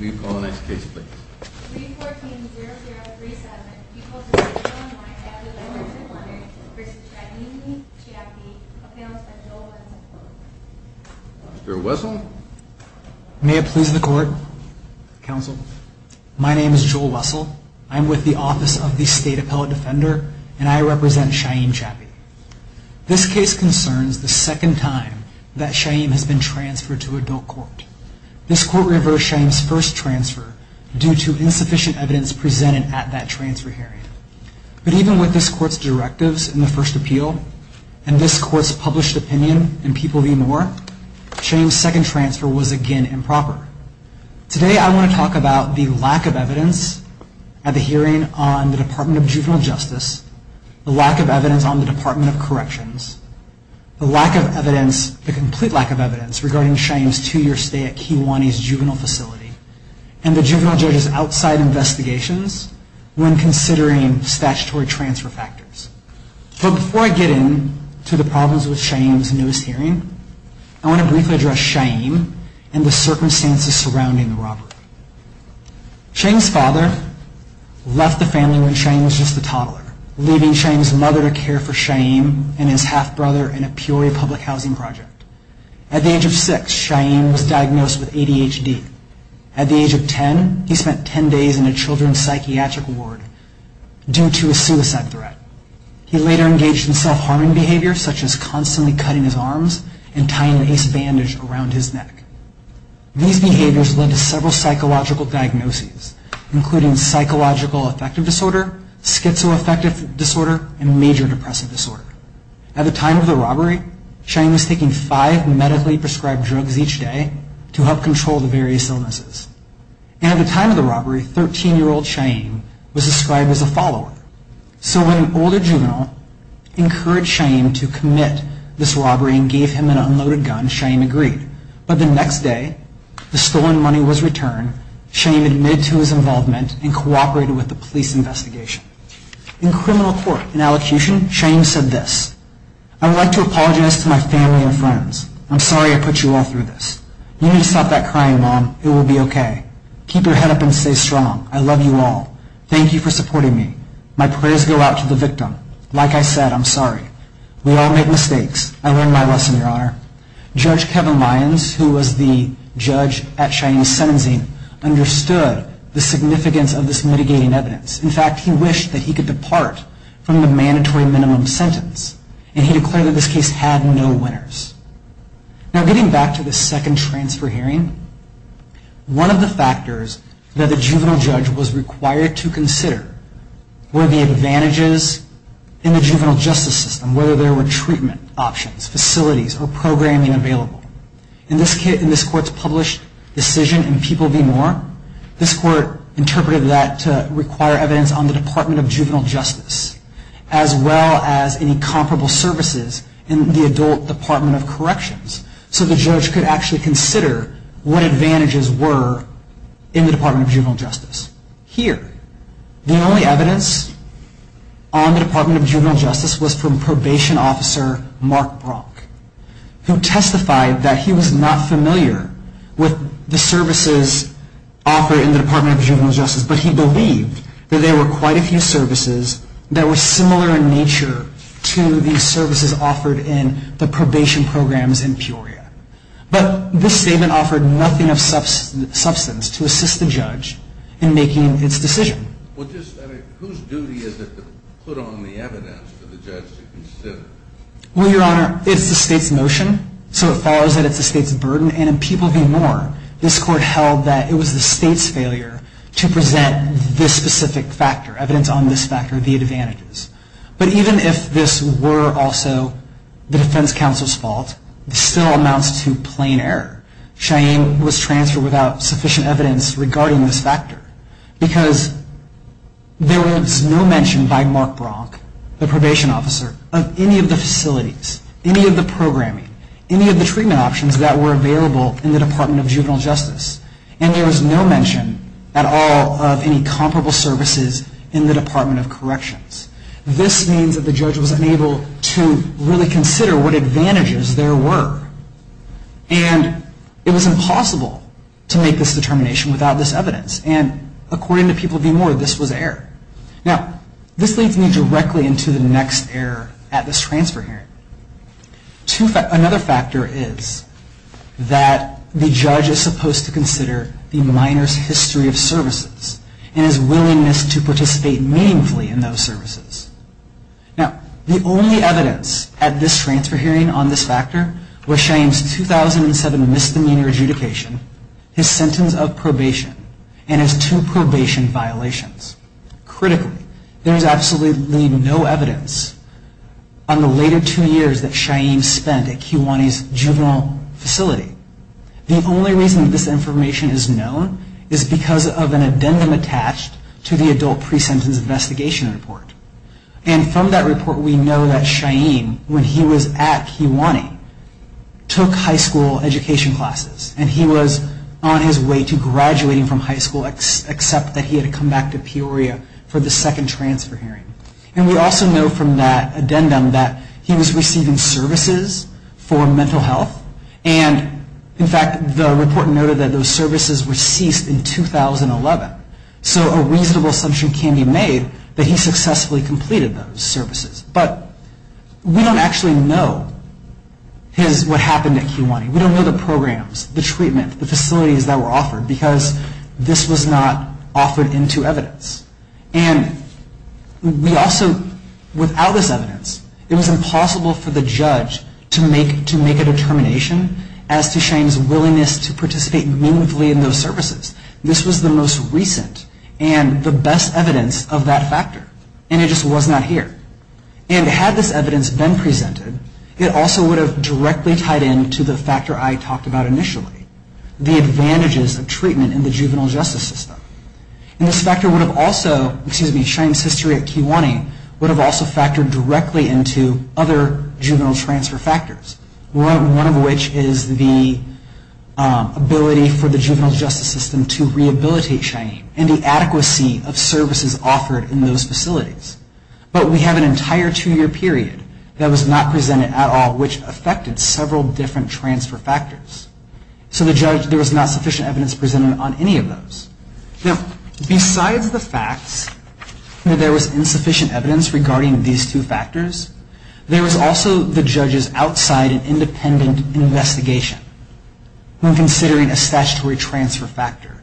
We call the next case please. 3-14-0037, people of the state of Illinois have their letters of honor v. Cheyenne Chapai, appealed by Joel Wessel. Mr. Wessel? May it please the court, counsel. My name is Joel Wessel. I'm with the Office of the State Appellate Defender, and I represent Cheyenne Chapai. This case concerns the second time that Cheyenne has been transferred to adult court. This court reversed Cheyenne's first transfer due to insufficient evidence presented at that transfer hearing. But even with this court's directives in the first appeal and this court's published opinion in People v. Moore, Cheyenne's second transfer was again improper. Today I want to talk about the lack of evidence at the hearing on the Department of Juvenile Justice, the lack of evidence on the Department of Corrections, the lack of evidence, the complete lack of evidence regarding Cheyenne's two-year stay at Kiwanis Juvenile Facility and the juvenile judge's outside investigations when considering statutory transfer factors. But before I get into the problems with Cheyenne's newest hearing, I want to briefly address Cheyenne and the circumstances surrounding the robbery. Cheyenne's father left the family when Cheyenne was just a toddler, leaving Cheyenne's mother to care for Cheyenne and his half-brother in a Peoria public housing project. At the age of 6, Cheyenne was diagnosed with ADHD. At the age of 10, he spent 10 days in a children's psychiatric ward due to a suicide threat. He later engaged in self-harming behavior, such as constantly cutting his arms and tying an Ace bandage around his neck. These behaviors led to several psychological diagnoses, including psychological affective disorder, schizoaffective disorder, and major depressive disorder. At the time of the robbery, Cheyenne was taking five medically prescribed drugs each day to help control the various illnesses. And at the time of the robbery, 13-year-old Cheyenne was described as a follower. So when an older juvenile encouraged Cheyenne to commit this robbery and gave him an unloaded gun, Cheyenne agreed. But the next day, the stolen money was returned. Cheyenne admitted to his involvement and cooperated with the police investigation. In criminal court, in allocution, Cheyenne said this. I would like to apologize to my family and friends. I'm sorry I put you all through this. You need to stop that crying, Mom. It will be okay. Keep your head up and stay strong. I love you all. Thank you for supporting me. My prayers go out to the victim. Like I said, I'm sorry. We all make mistakes. I learned my lesson, Your Honor. Judge Kevin Lyons, who was the judge at Cheyenne's sentencing, understood the significance of this mitigating evidence. In fact, he wished that he could depart from the mandatory minimum sentence. And he declared that this case had no winners. Now getting back to the second transfer hearing, one of the factors that the juvenile judge was required to consider were the advantages in the juvenile justice system, whether there were treatment options, facilities, or programming available. In this court's published decision in People v. Moore, this court interpreted that to require evidence on the Department of Juvenile Justice, as well as any comparable services in the adult Department of Corrections, so the judge could actually consider what advantages were in the Department of Juvenile Justice. Here, the only evidence on the Department of Juvenile Justice was from probation officer Mark Brock, who testified that he was not familiar with the services offered in the Department of Juvenile Justice, but he believed that there were quite a few services that were similar in nature to the services offered in the probation programs in Peoria. But this statement offered nothing of substance to assist the judge in making its decision. Whose duty is it to put on the evidence for the judge to consider? Well, Your Honor, it's the state's motion, so it follows that it's the state's burden. And in People v. Moore, this court held that it was the state's failure to present this specific factor, evidence on this factor, the advantages. But even if this were also the defense counsel's fault, it still amounts to plain error. Cheyenne was transferred without sufficient evidence regarding this factor, because there was no mention by Mark Brock, the probation officer, of any of the facilities, any of the programming, any of the treatment options that were available in the Department of Juvenile Justice, and there was no mention at all of any comparable services in the Department of Corrections. This means that the judge was unable to really consider what advantages there were. And it was impossible to make this determination without this evidence. And according to People v. Moore, this was error. Now, this leads me directly into the next error at this transfer hearing. Another factor is that the judge is supposed to consider the minor's history of services and his willingness to participate meaningfully in those services. Now, the only evidence at this transfer hearing on this factor was Cheyenne's 2007 misdemeanor adjudication, his sentence of probation, and his two probation violations. Critically, there is absolutely no evidence on the later two years that Cheyenne spent at Kiwani's juvenile facility. The only reason this information is known is because of an addendum attached to the adult pre-sentence investigation report. And from that report, we know that Cheyenne, when he was at Kiwani, took high school education classes. And he was on his way to graduating from high school, except that he had to come back to Peoria for the second transfer hearing. And we also know from that addendum that he was receiving services for mental health, and in fact, the report noted that those services were ceased in 2011. So a reasonable assumption can be made that he successfully completed those services. But we don't actually know what happened at Kiwani. We don't know the programs, the treatment, the facilities that were offered, because this was not offered into evidence. And we also, without this evidence, it was impossible for the judge to make a determination as to Cheyenne's willingness to participate meaningfully in those services. This was the most recent and the best evidence of that factor, and it just was not here. And had this evidence been presented, it also would have directly tied into the factor I talked about initially, the advantages of treatment in the juvenile justice system. And this factor would have also, excuse me, Cheyenne's history at Kiwani would have also factored directly into other juvenile transfer factors. One of which is the ability for the juvenile justice system to rehabilitate Cheyenne and the adequacy of services offered in those facilities. But we have an entire two-year period that was not presented at all, which affected several different transfer factors. So the judge, there was not sufficient evidence presented on any of those. Now, besides the facts, there was insufficient evidence regarding these two factors. There was also the judge's outside and independent investigation when considering a statutory transfer factor.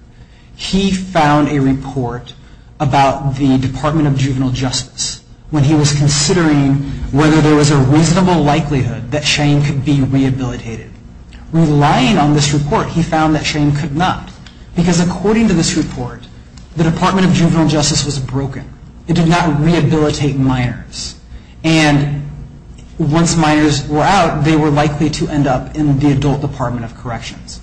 He found a report about the Department of Juvenile Justice when he was considering whether there was a reasonable likelihood that Cheyenne could be rehabilitated. Relying on this report, he found that Cheyenne could not, because according to this report, the Department of Juvenile Justice was broken. It did not rehabilitate minors. And once minors were out, they were likely to end up in the Adult Department of Corrections.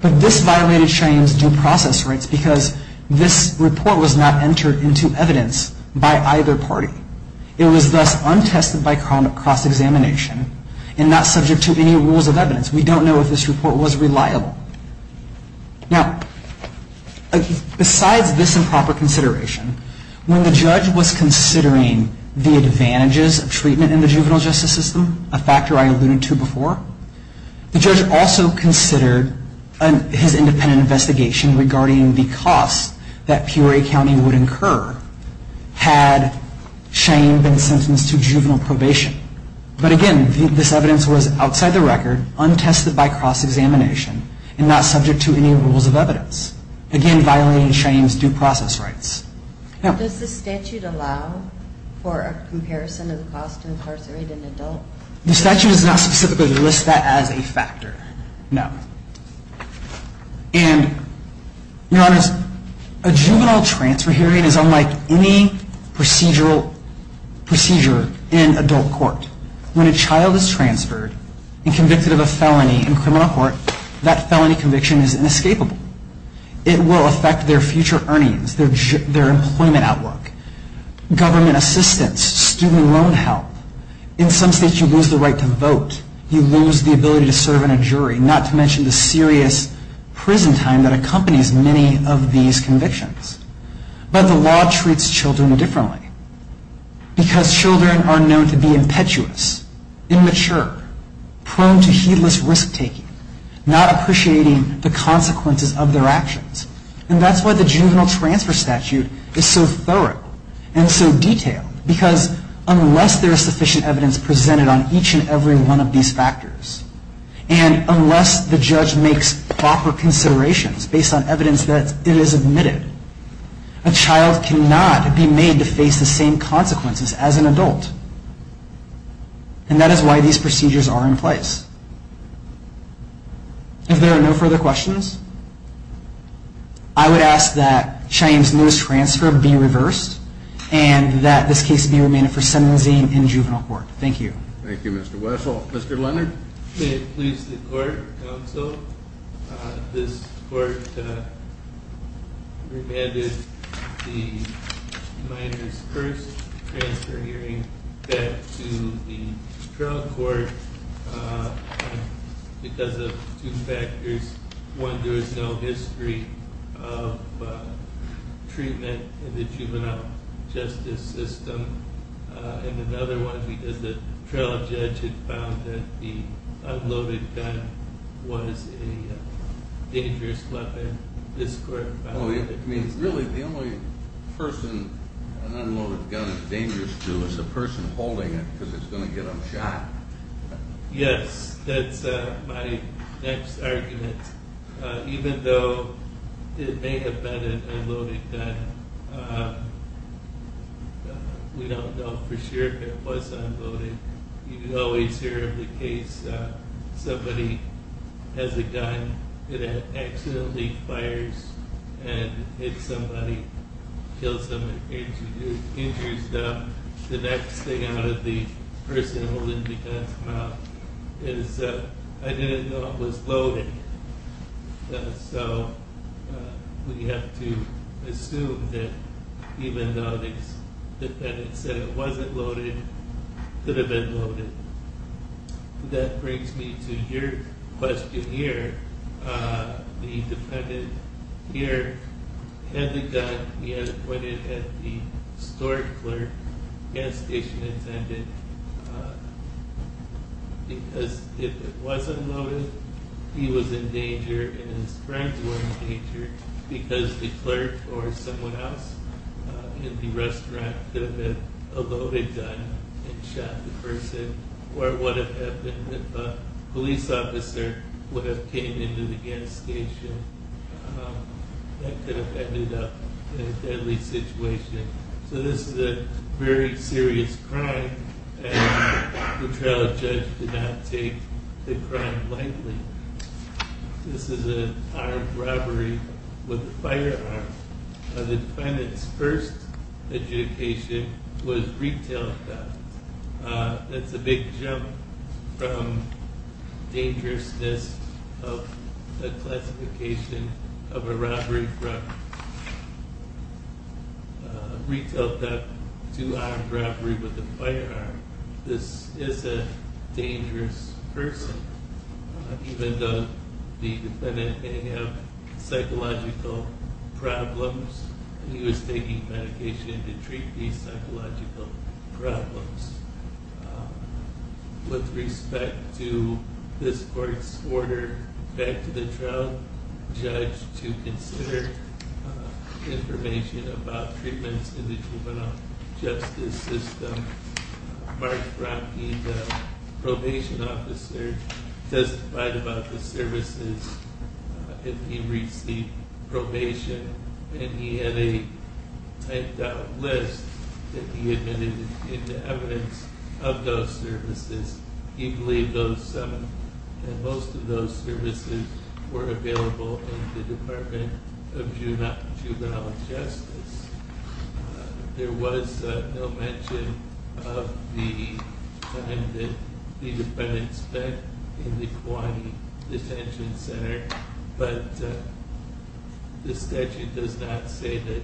But this violated Cheyenne's due process rights because this report was not entered into evidence by either party. It was thus untested by cross-examination and not subject to any rules of evidence. We don't know if this report was reliable. Now, besides this improper consideration, when the judge was considering the advantages of treatment in the juvenile justice system, a factor I alluded to before, the judge also considered his independent investigation regarding the costs that Peoria County would incur had the juvenile justice system had Cheyenne been sentenced to juvenile probation. But again, this evidence was outside the record, untested by cross-examination, and not subject to any rules of evidence. Again, violating Cheyenne's due process rights. Does the statute allow for a comparison of the cost to incarcerate an adult? The statute does not specifically list that as a factor, no. And, Your Honors, a juvenile transfer hearing is unlike any procedural procedure in adult court. When a child is transferred and convicted of a felony in criminal court, that felony conviction is inescapable. It will affect their future earnings, their employment outlook, government assistance, student loan help. In some states, you lose the right to vote. You lose the ability to serve in a jury, not to mention the serious prison time that accompanies many of these convictions. But the law treats children differently. Because children are known to be impetuous, immature, prone to heedless risk-taking, not appreciating the consequences of their actions. And that's why the juvenile transfer statute is so thorough and so detailed. Because unless there is sufficient evidence presented on each and every one of these factors, and unless the judge makes proper considerations based on evidence that it is admitted, a child cannot be made to face the same consequences as an adult. And that is why these procedures are in place. If there are no further questions, I would ask that Cheyenne's nose transfer be reversed, and that this case be remanded for sentencing in juvenile court. Thank you. Thank you, Mr. Wessel. Mr. Leonard? May it please the court, counsel. This court remanded the minors' first transfer hearing back to the trial court because of two factors. One, there is no history of treatment in the juvenile justice system. And another one, because the trial judge had found that the unloaded gun was a dangerous weapon. Really, the only person an unloaded gun is dangerous to is the person holding it, because it's going to get them shot. Yes, that's my next argument. Even though it may have been an unloaded gun, we don't know for sure if it was unloaded. You always hear of the case, somebody has a gun that accidentally fires, and if somebody kills them and injures them, the next thing out of the person holding the gun's mouth is, I didn't know it was loaded. So we have to assume that even though the defendant said it wasn't loaded, it could have been loaded. That brings me to your question here. The defendant here had the gun. He had it pointed at the store clerk, gas station attendant, because if it was unloaded, he was in danger and his friends were in danger, because the clerk or someone else in the restaurant could have been a loaded gun and shot the person, or what would have happened if a police officer would have came into the gas station. That could have ended up in a deadly situation. So this is a very serious crime, and the trial judge did not take the crime lightly. This is an armed robbery with a firearm. The defendant's first adjudication was retail theft. That's a big jump from dangerousness of the classification of a robbery from retail theft to armed robbery with a firearm. This is a dangerous person. Even though the defendant may have psychological problems, he was taking medication to treat these psychological problems. With respect to this court's order back to the trial judge to consider information about treatments in the juvenile justice system, Mark Bronte, the probation officer, testified about the services if he received probation, and he had a typed out list that he admitted into evidence of those services. He believed that most of those services were available in the Department of Juvenile Justice. There was no mention of the time that the defendant spent in the Kauai Detention Center, but the statute does not say that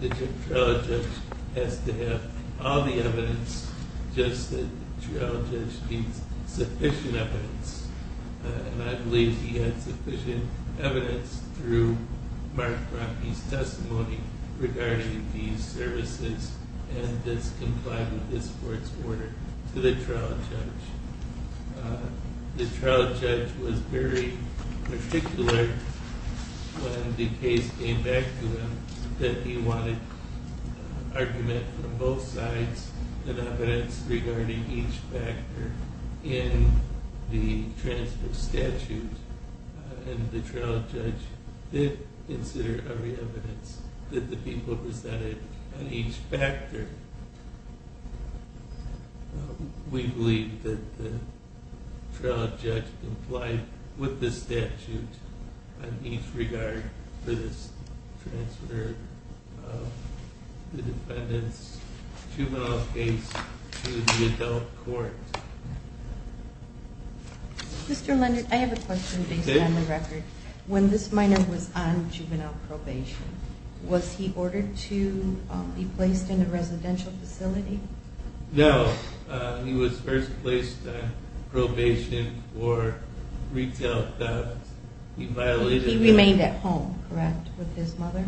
the trial judge has to have all the evidence, just that the trial judge needs sufficient evidence, and I believe he had sufficient evidence through Mark Bronte's testimony regarding these services and this compliance with this court's order to the trial judge. The trial judge was very particular when the case came back to him that he wanted argument from both sides and evidence regarding each factor in the transfer statute, and the trial judge did consider every evidence that the people presented on each factor. We believe that the trial judge complied with the statute on each regard for this transfer of the defendant's juvenile case to the adult court. Mr. Leonard, I have a question based on the record. When this minor was on juvenile probation, was he ordered to be placed in a residential facility? No, he was first placed on probation for retail theft. He remained at home, correct, with his mother?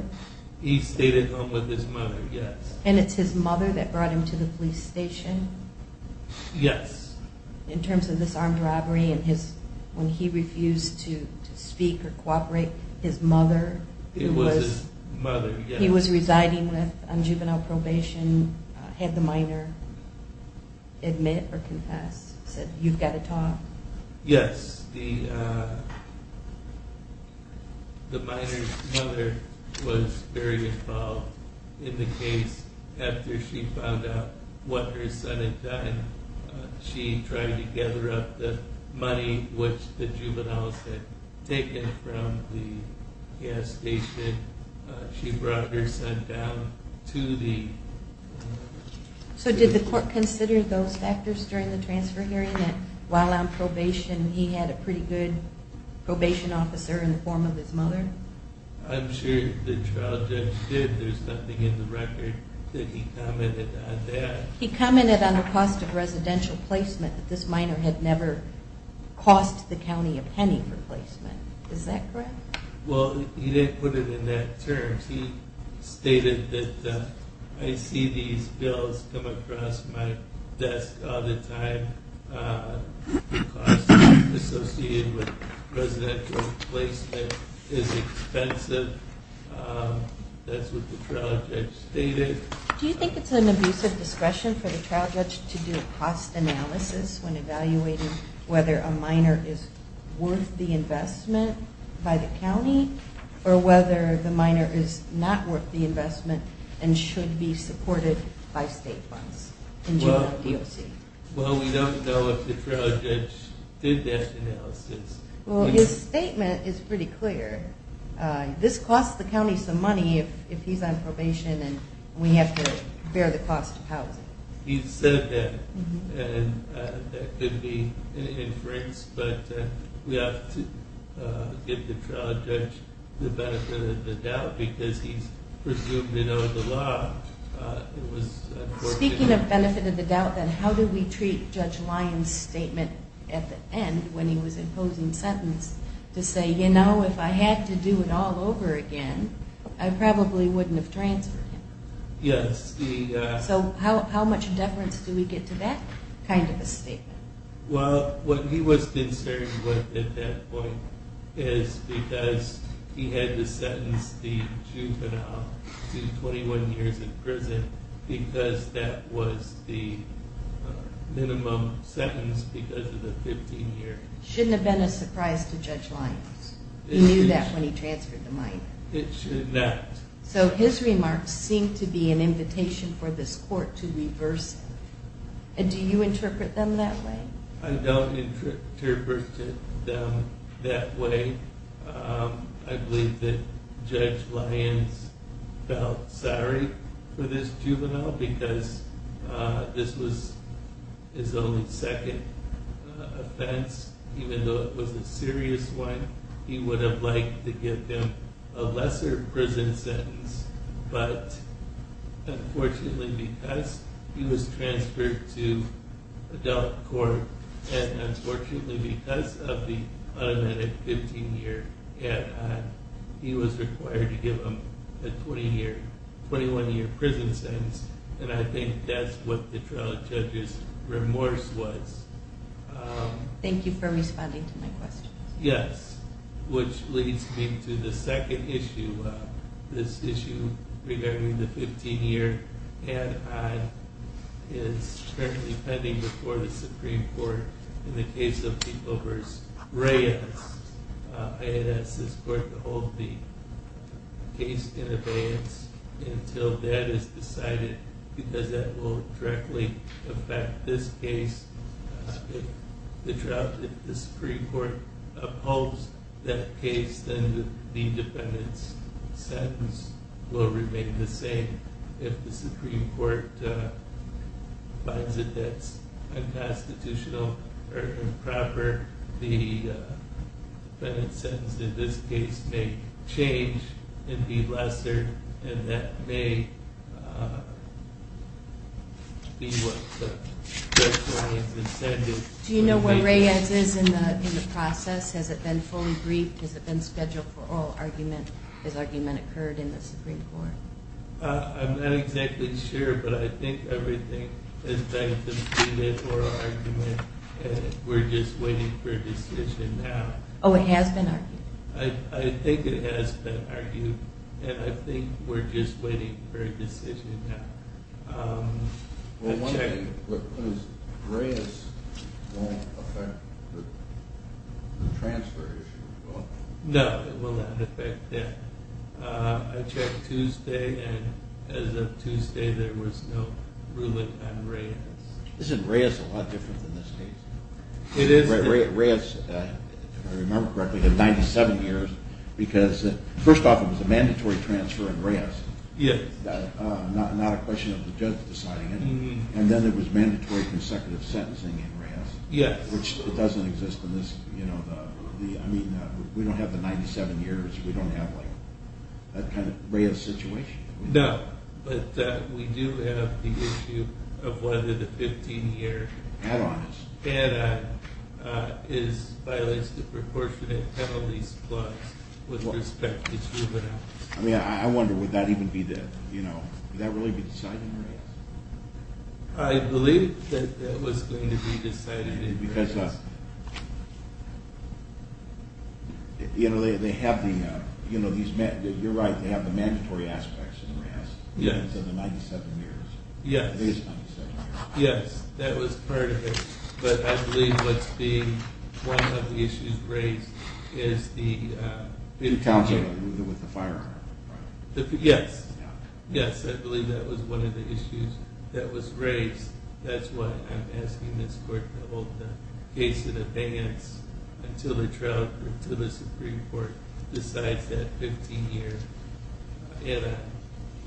He stayed at home with his mother, yes. And it's his mother that brought him to the police station? Yes. In terms of this armed robbery, when he refused to speak or cooperate, his mother, who he was residing with on juvenile probation, had the minor admit or confess, said, you've got to talk? Yes, the minor's mother was very involved in the case after she found out what her son had done. She tried to gather up the money which the juveniles had taken from the gas station. She brought her son down to the... So did the court consider those factors during the transfer hearing, that while on probation he had a pretty good probation officer in the form of his mother? I'm sure the trial judge did. There's nothing in the record that he commented on that. He commented on the cost of residential placement, that this minor had never cost the county a penny for placement. Is that correct? Well, he didn't put it in that term. He stated that I see these bills come across my desk all the time. The cost associated with residential placement is expensive. That's what the trial judge stated. Do you think it's an abusive discretion for the trial judge to do a cost analysis when evaluating whether a minor is worth the investment by the county, or whether the minor is not worth the investment and should be supported by state funds? Well, we don't know if the trial judge did that analysis. Well, his statement is pretty clear. This costs the county some money if he's on probation and we have to bear the cost of housing. He said that and that could be an inference, but we have to give the trial judge the benefit of the doubt because he's presumed to know the law. Speaking of benefit of the doubt, then how do we treat Judge Lyons' statement at the end when he was imposing sentence to say, you know, if I had to do it all over again, I probably wouldn't have transferred him. So how much deference do we get to that kind of a statement? Well, what he was concerned with at that point is because he had to sentence the juvenile to 21 years in prison because that was the minimum sentence because of the 15 years. Shouldn't have been a surprise to Judge Lyons. He knew that when he transferred the minor. So his remarks seem to be an invitation for this court to reverse it. Do you interpret them that way? I don't interpret them that way. I believe that Judge Lyons felt sorry for this juvenile because this was his only second offense. Even though it was a serious one, he would have liked to give them a lesser prison sentence, but unfortunately because he was transferred to adult court and unfortunately because of the unamended 15 year ad hoc, he was required to give them a 21 year prison sentence, and I think that's what the trial judge's remorse was. Thank you for responding to my question. Yes, which leads me to the second issue. This issue regarding the 15 year ad hoc is currently pending before the Supreme Court in the case of the Obers Reyes. I had asked this court to hold the case in abeyance until that is decided because that will directly affect this case. If the Supreme Court upholds that case, then the defendant's sentence will remain the same and if the Supreme Court finds that that's unconstitutional or improper, the defendant's sentence in this case may change and be lesser and that may be what Judge Lyons intended. Do you know where Reyes is in the process? Has it been fully briefed? Has it been scheduled for oral argument? Has argument occurred in the Supreme Court? I'm not exactly sure, but I think everything has been completed for oral argument and we're just waiting for a decision now. Oh, it has been argued? I think it has been argued and I think we're just waiting for a decision now. Reyes won't affect the transfer issue? No, it will not affect that. I checked Tuesday and as of Tuesday there was no ruling on Reyes. Isn't Reyes a lot different than this case? Reyes, if I remember correctly, had 97 years because first off it was a mandatory transfer in Reyes. Not a question of the judge deciding it. And then there was mandatory consecutive sentencing in Reyes, which doesn't exist in this case. We don't have the 97 years, we don't have that kind of Reyes situation. No, but we do have the issue of whether the 15 year add-on is violates the proportionate penalties clause with respect to juveniles. I wonder, would that really be decided in Reyes? I believe that it was going to be decided in Reyes. You're right, they have the mandatory aspects in Reyes. Yes, that was part of it. Yes, I believe that was one of the issues raised. Yes, I believe that was one of the issues that was raised. That's why I'm asking this court to hold the case in advance until the Supreme Court decides that 15 year add-on has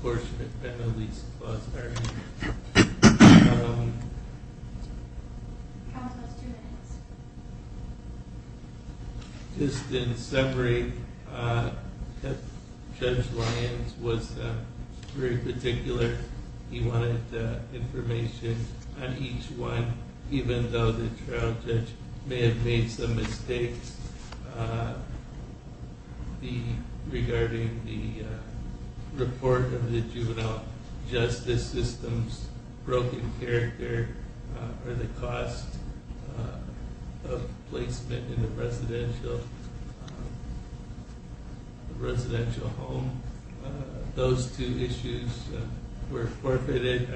violated the proportionate penalties clause. How was those two minutes? Just in summary, Judge Lyons was very particular. He wanted information on each one, even though the trial judge may have made some mistakes regarding the report of the juvenile justice system's broken character or the cost of placement in a residential home. Those two issues were forfeited,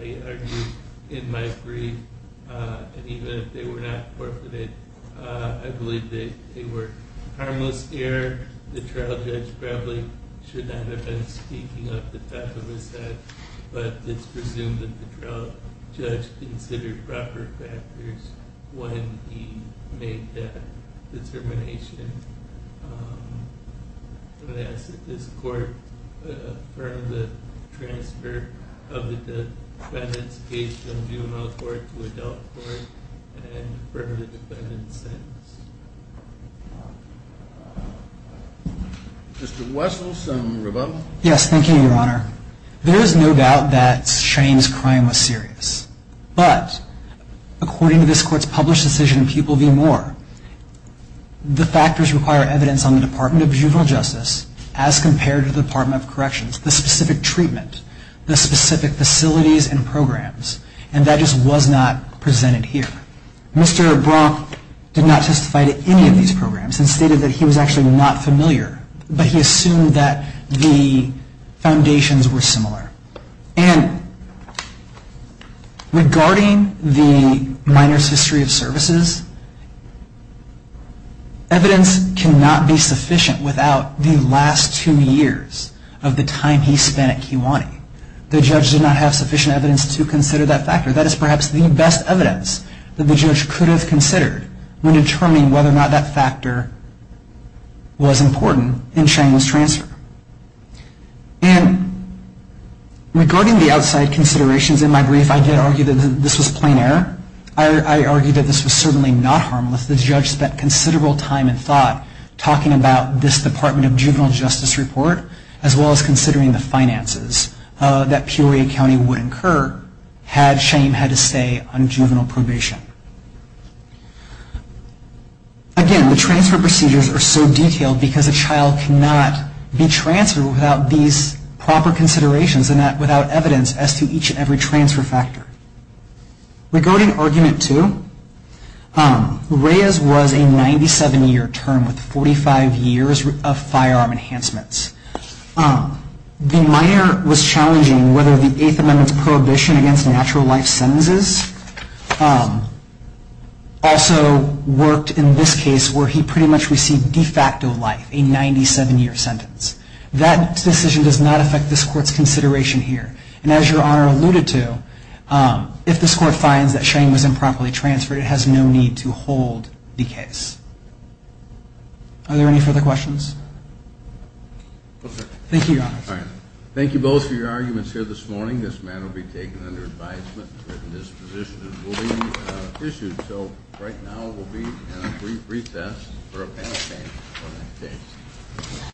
I argue, in my brief. Even if they were not forfeited, I believe they were harmless error. The trial judge probably should not have been speaking up the type of mistake, but it's presumed that the trial judge considered proper factors when he made that determination. I'm going to ask that this court affirm the transfer of the defendant's case from juvenile court to adult court and affirm the defendant's sentence. Yes, thank you, Your Honor. There is no doubt that Shane's crime was serious, but according to this court's published decision in Pupil v. Moore, the factors require evidence on the Department of Juvenile Justice as compared to the Department of Corrections, the specific treatment, the specific facilities and programs, and that just was not presented here. Mr. Brock did not testify to any of these programs and stated that he was actually not familiar, but he assumed that the foundations were similar. And regarding the minor's history of services, evidence cannot be sufficient without the last two years of the time he spent at Keewanee. The judge did not have sufficient evidence to consider that factor. That is perhaps the best evidence that the judge could have considered when determining whether or not that factor was important in Shane's transfer. And regarding the outside considerations in my brief, I did argue that this was plain error. I argued that this was certainly not harmless. The judge spent considerable time and thought talking about this Department of Juvenile Justice report as well as considering the finances that Peoria County would incur had Shane had to stay on juvenile probation. Again, the transfer procedures are so detailed because a child cannot be transferred without these proper considerations and without evidence as to each and every transfer factor. Regarding argument two, Reyes was a 97-year term with 45 years of firearm enhancements. The minor was challenging whether the Eighth Amendment's prohibition against natural life sentences also worked in this case where he pretty much received de facto life, a 97-year sentence. That decision does not affect this Court's consideration here. And as Your Honor alluded to, if this Court finds that Shane was improperly transferred, it has no need to hold the case. Are there any further questions? Thank you, Your Honor. Thank you both for your arguments here this morning. This matter will be taken under advisement and written dispositions will be issued. So right now we'll be in a brief recess for a panel discussion for the next day.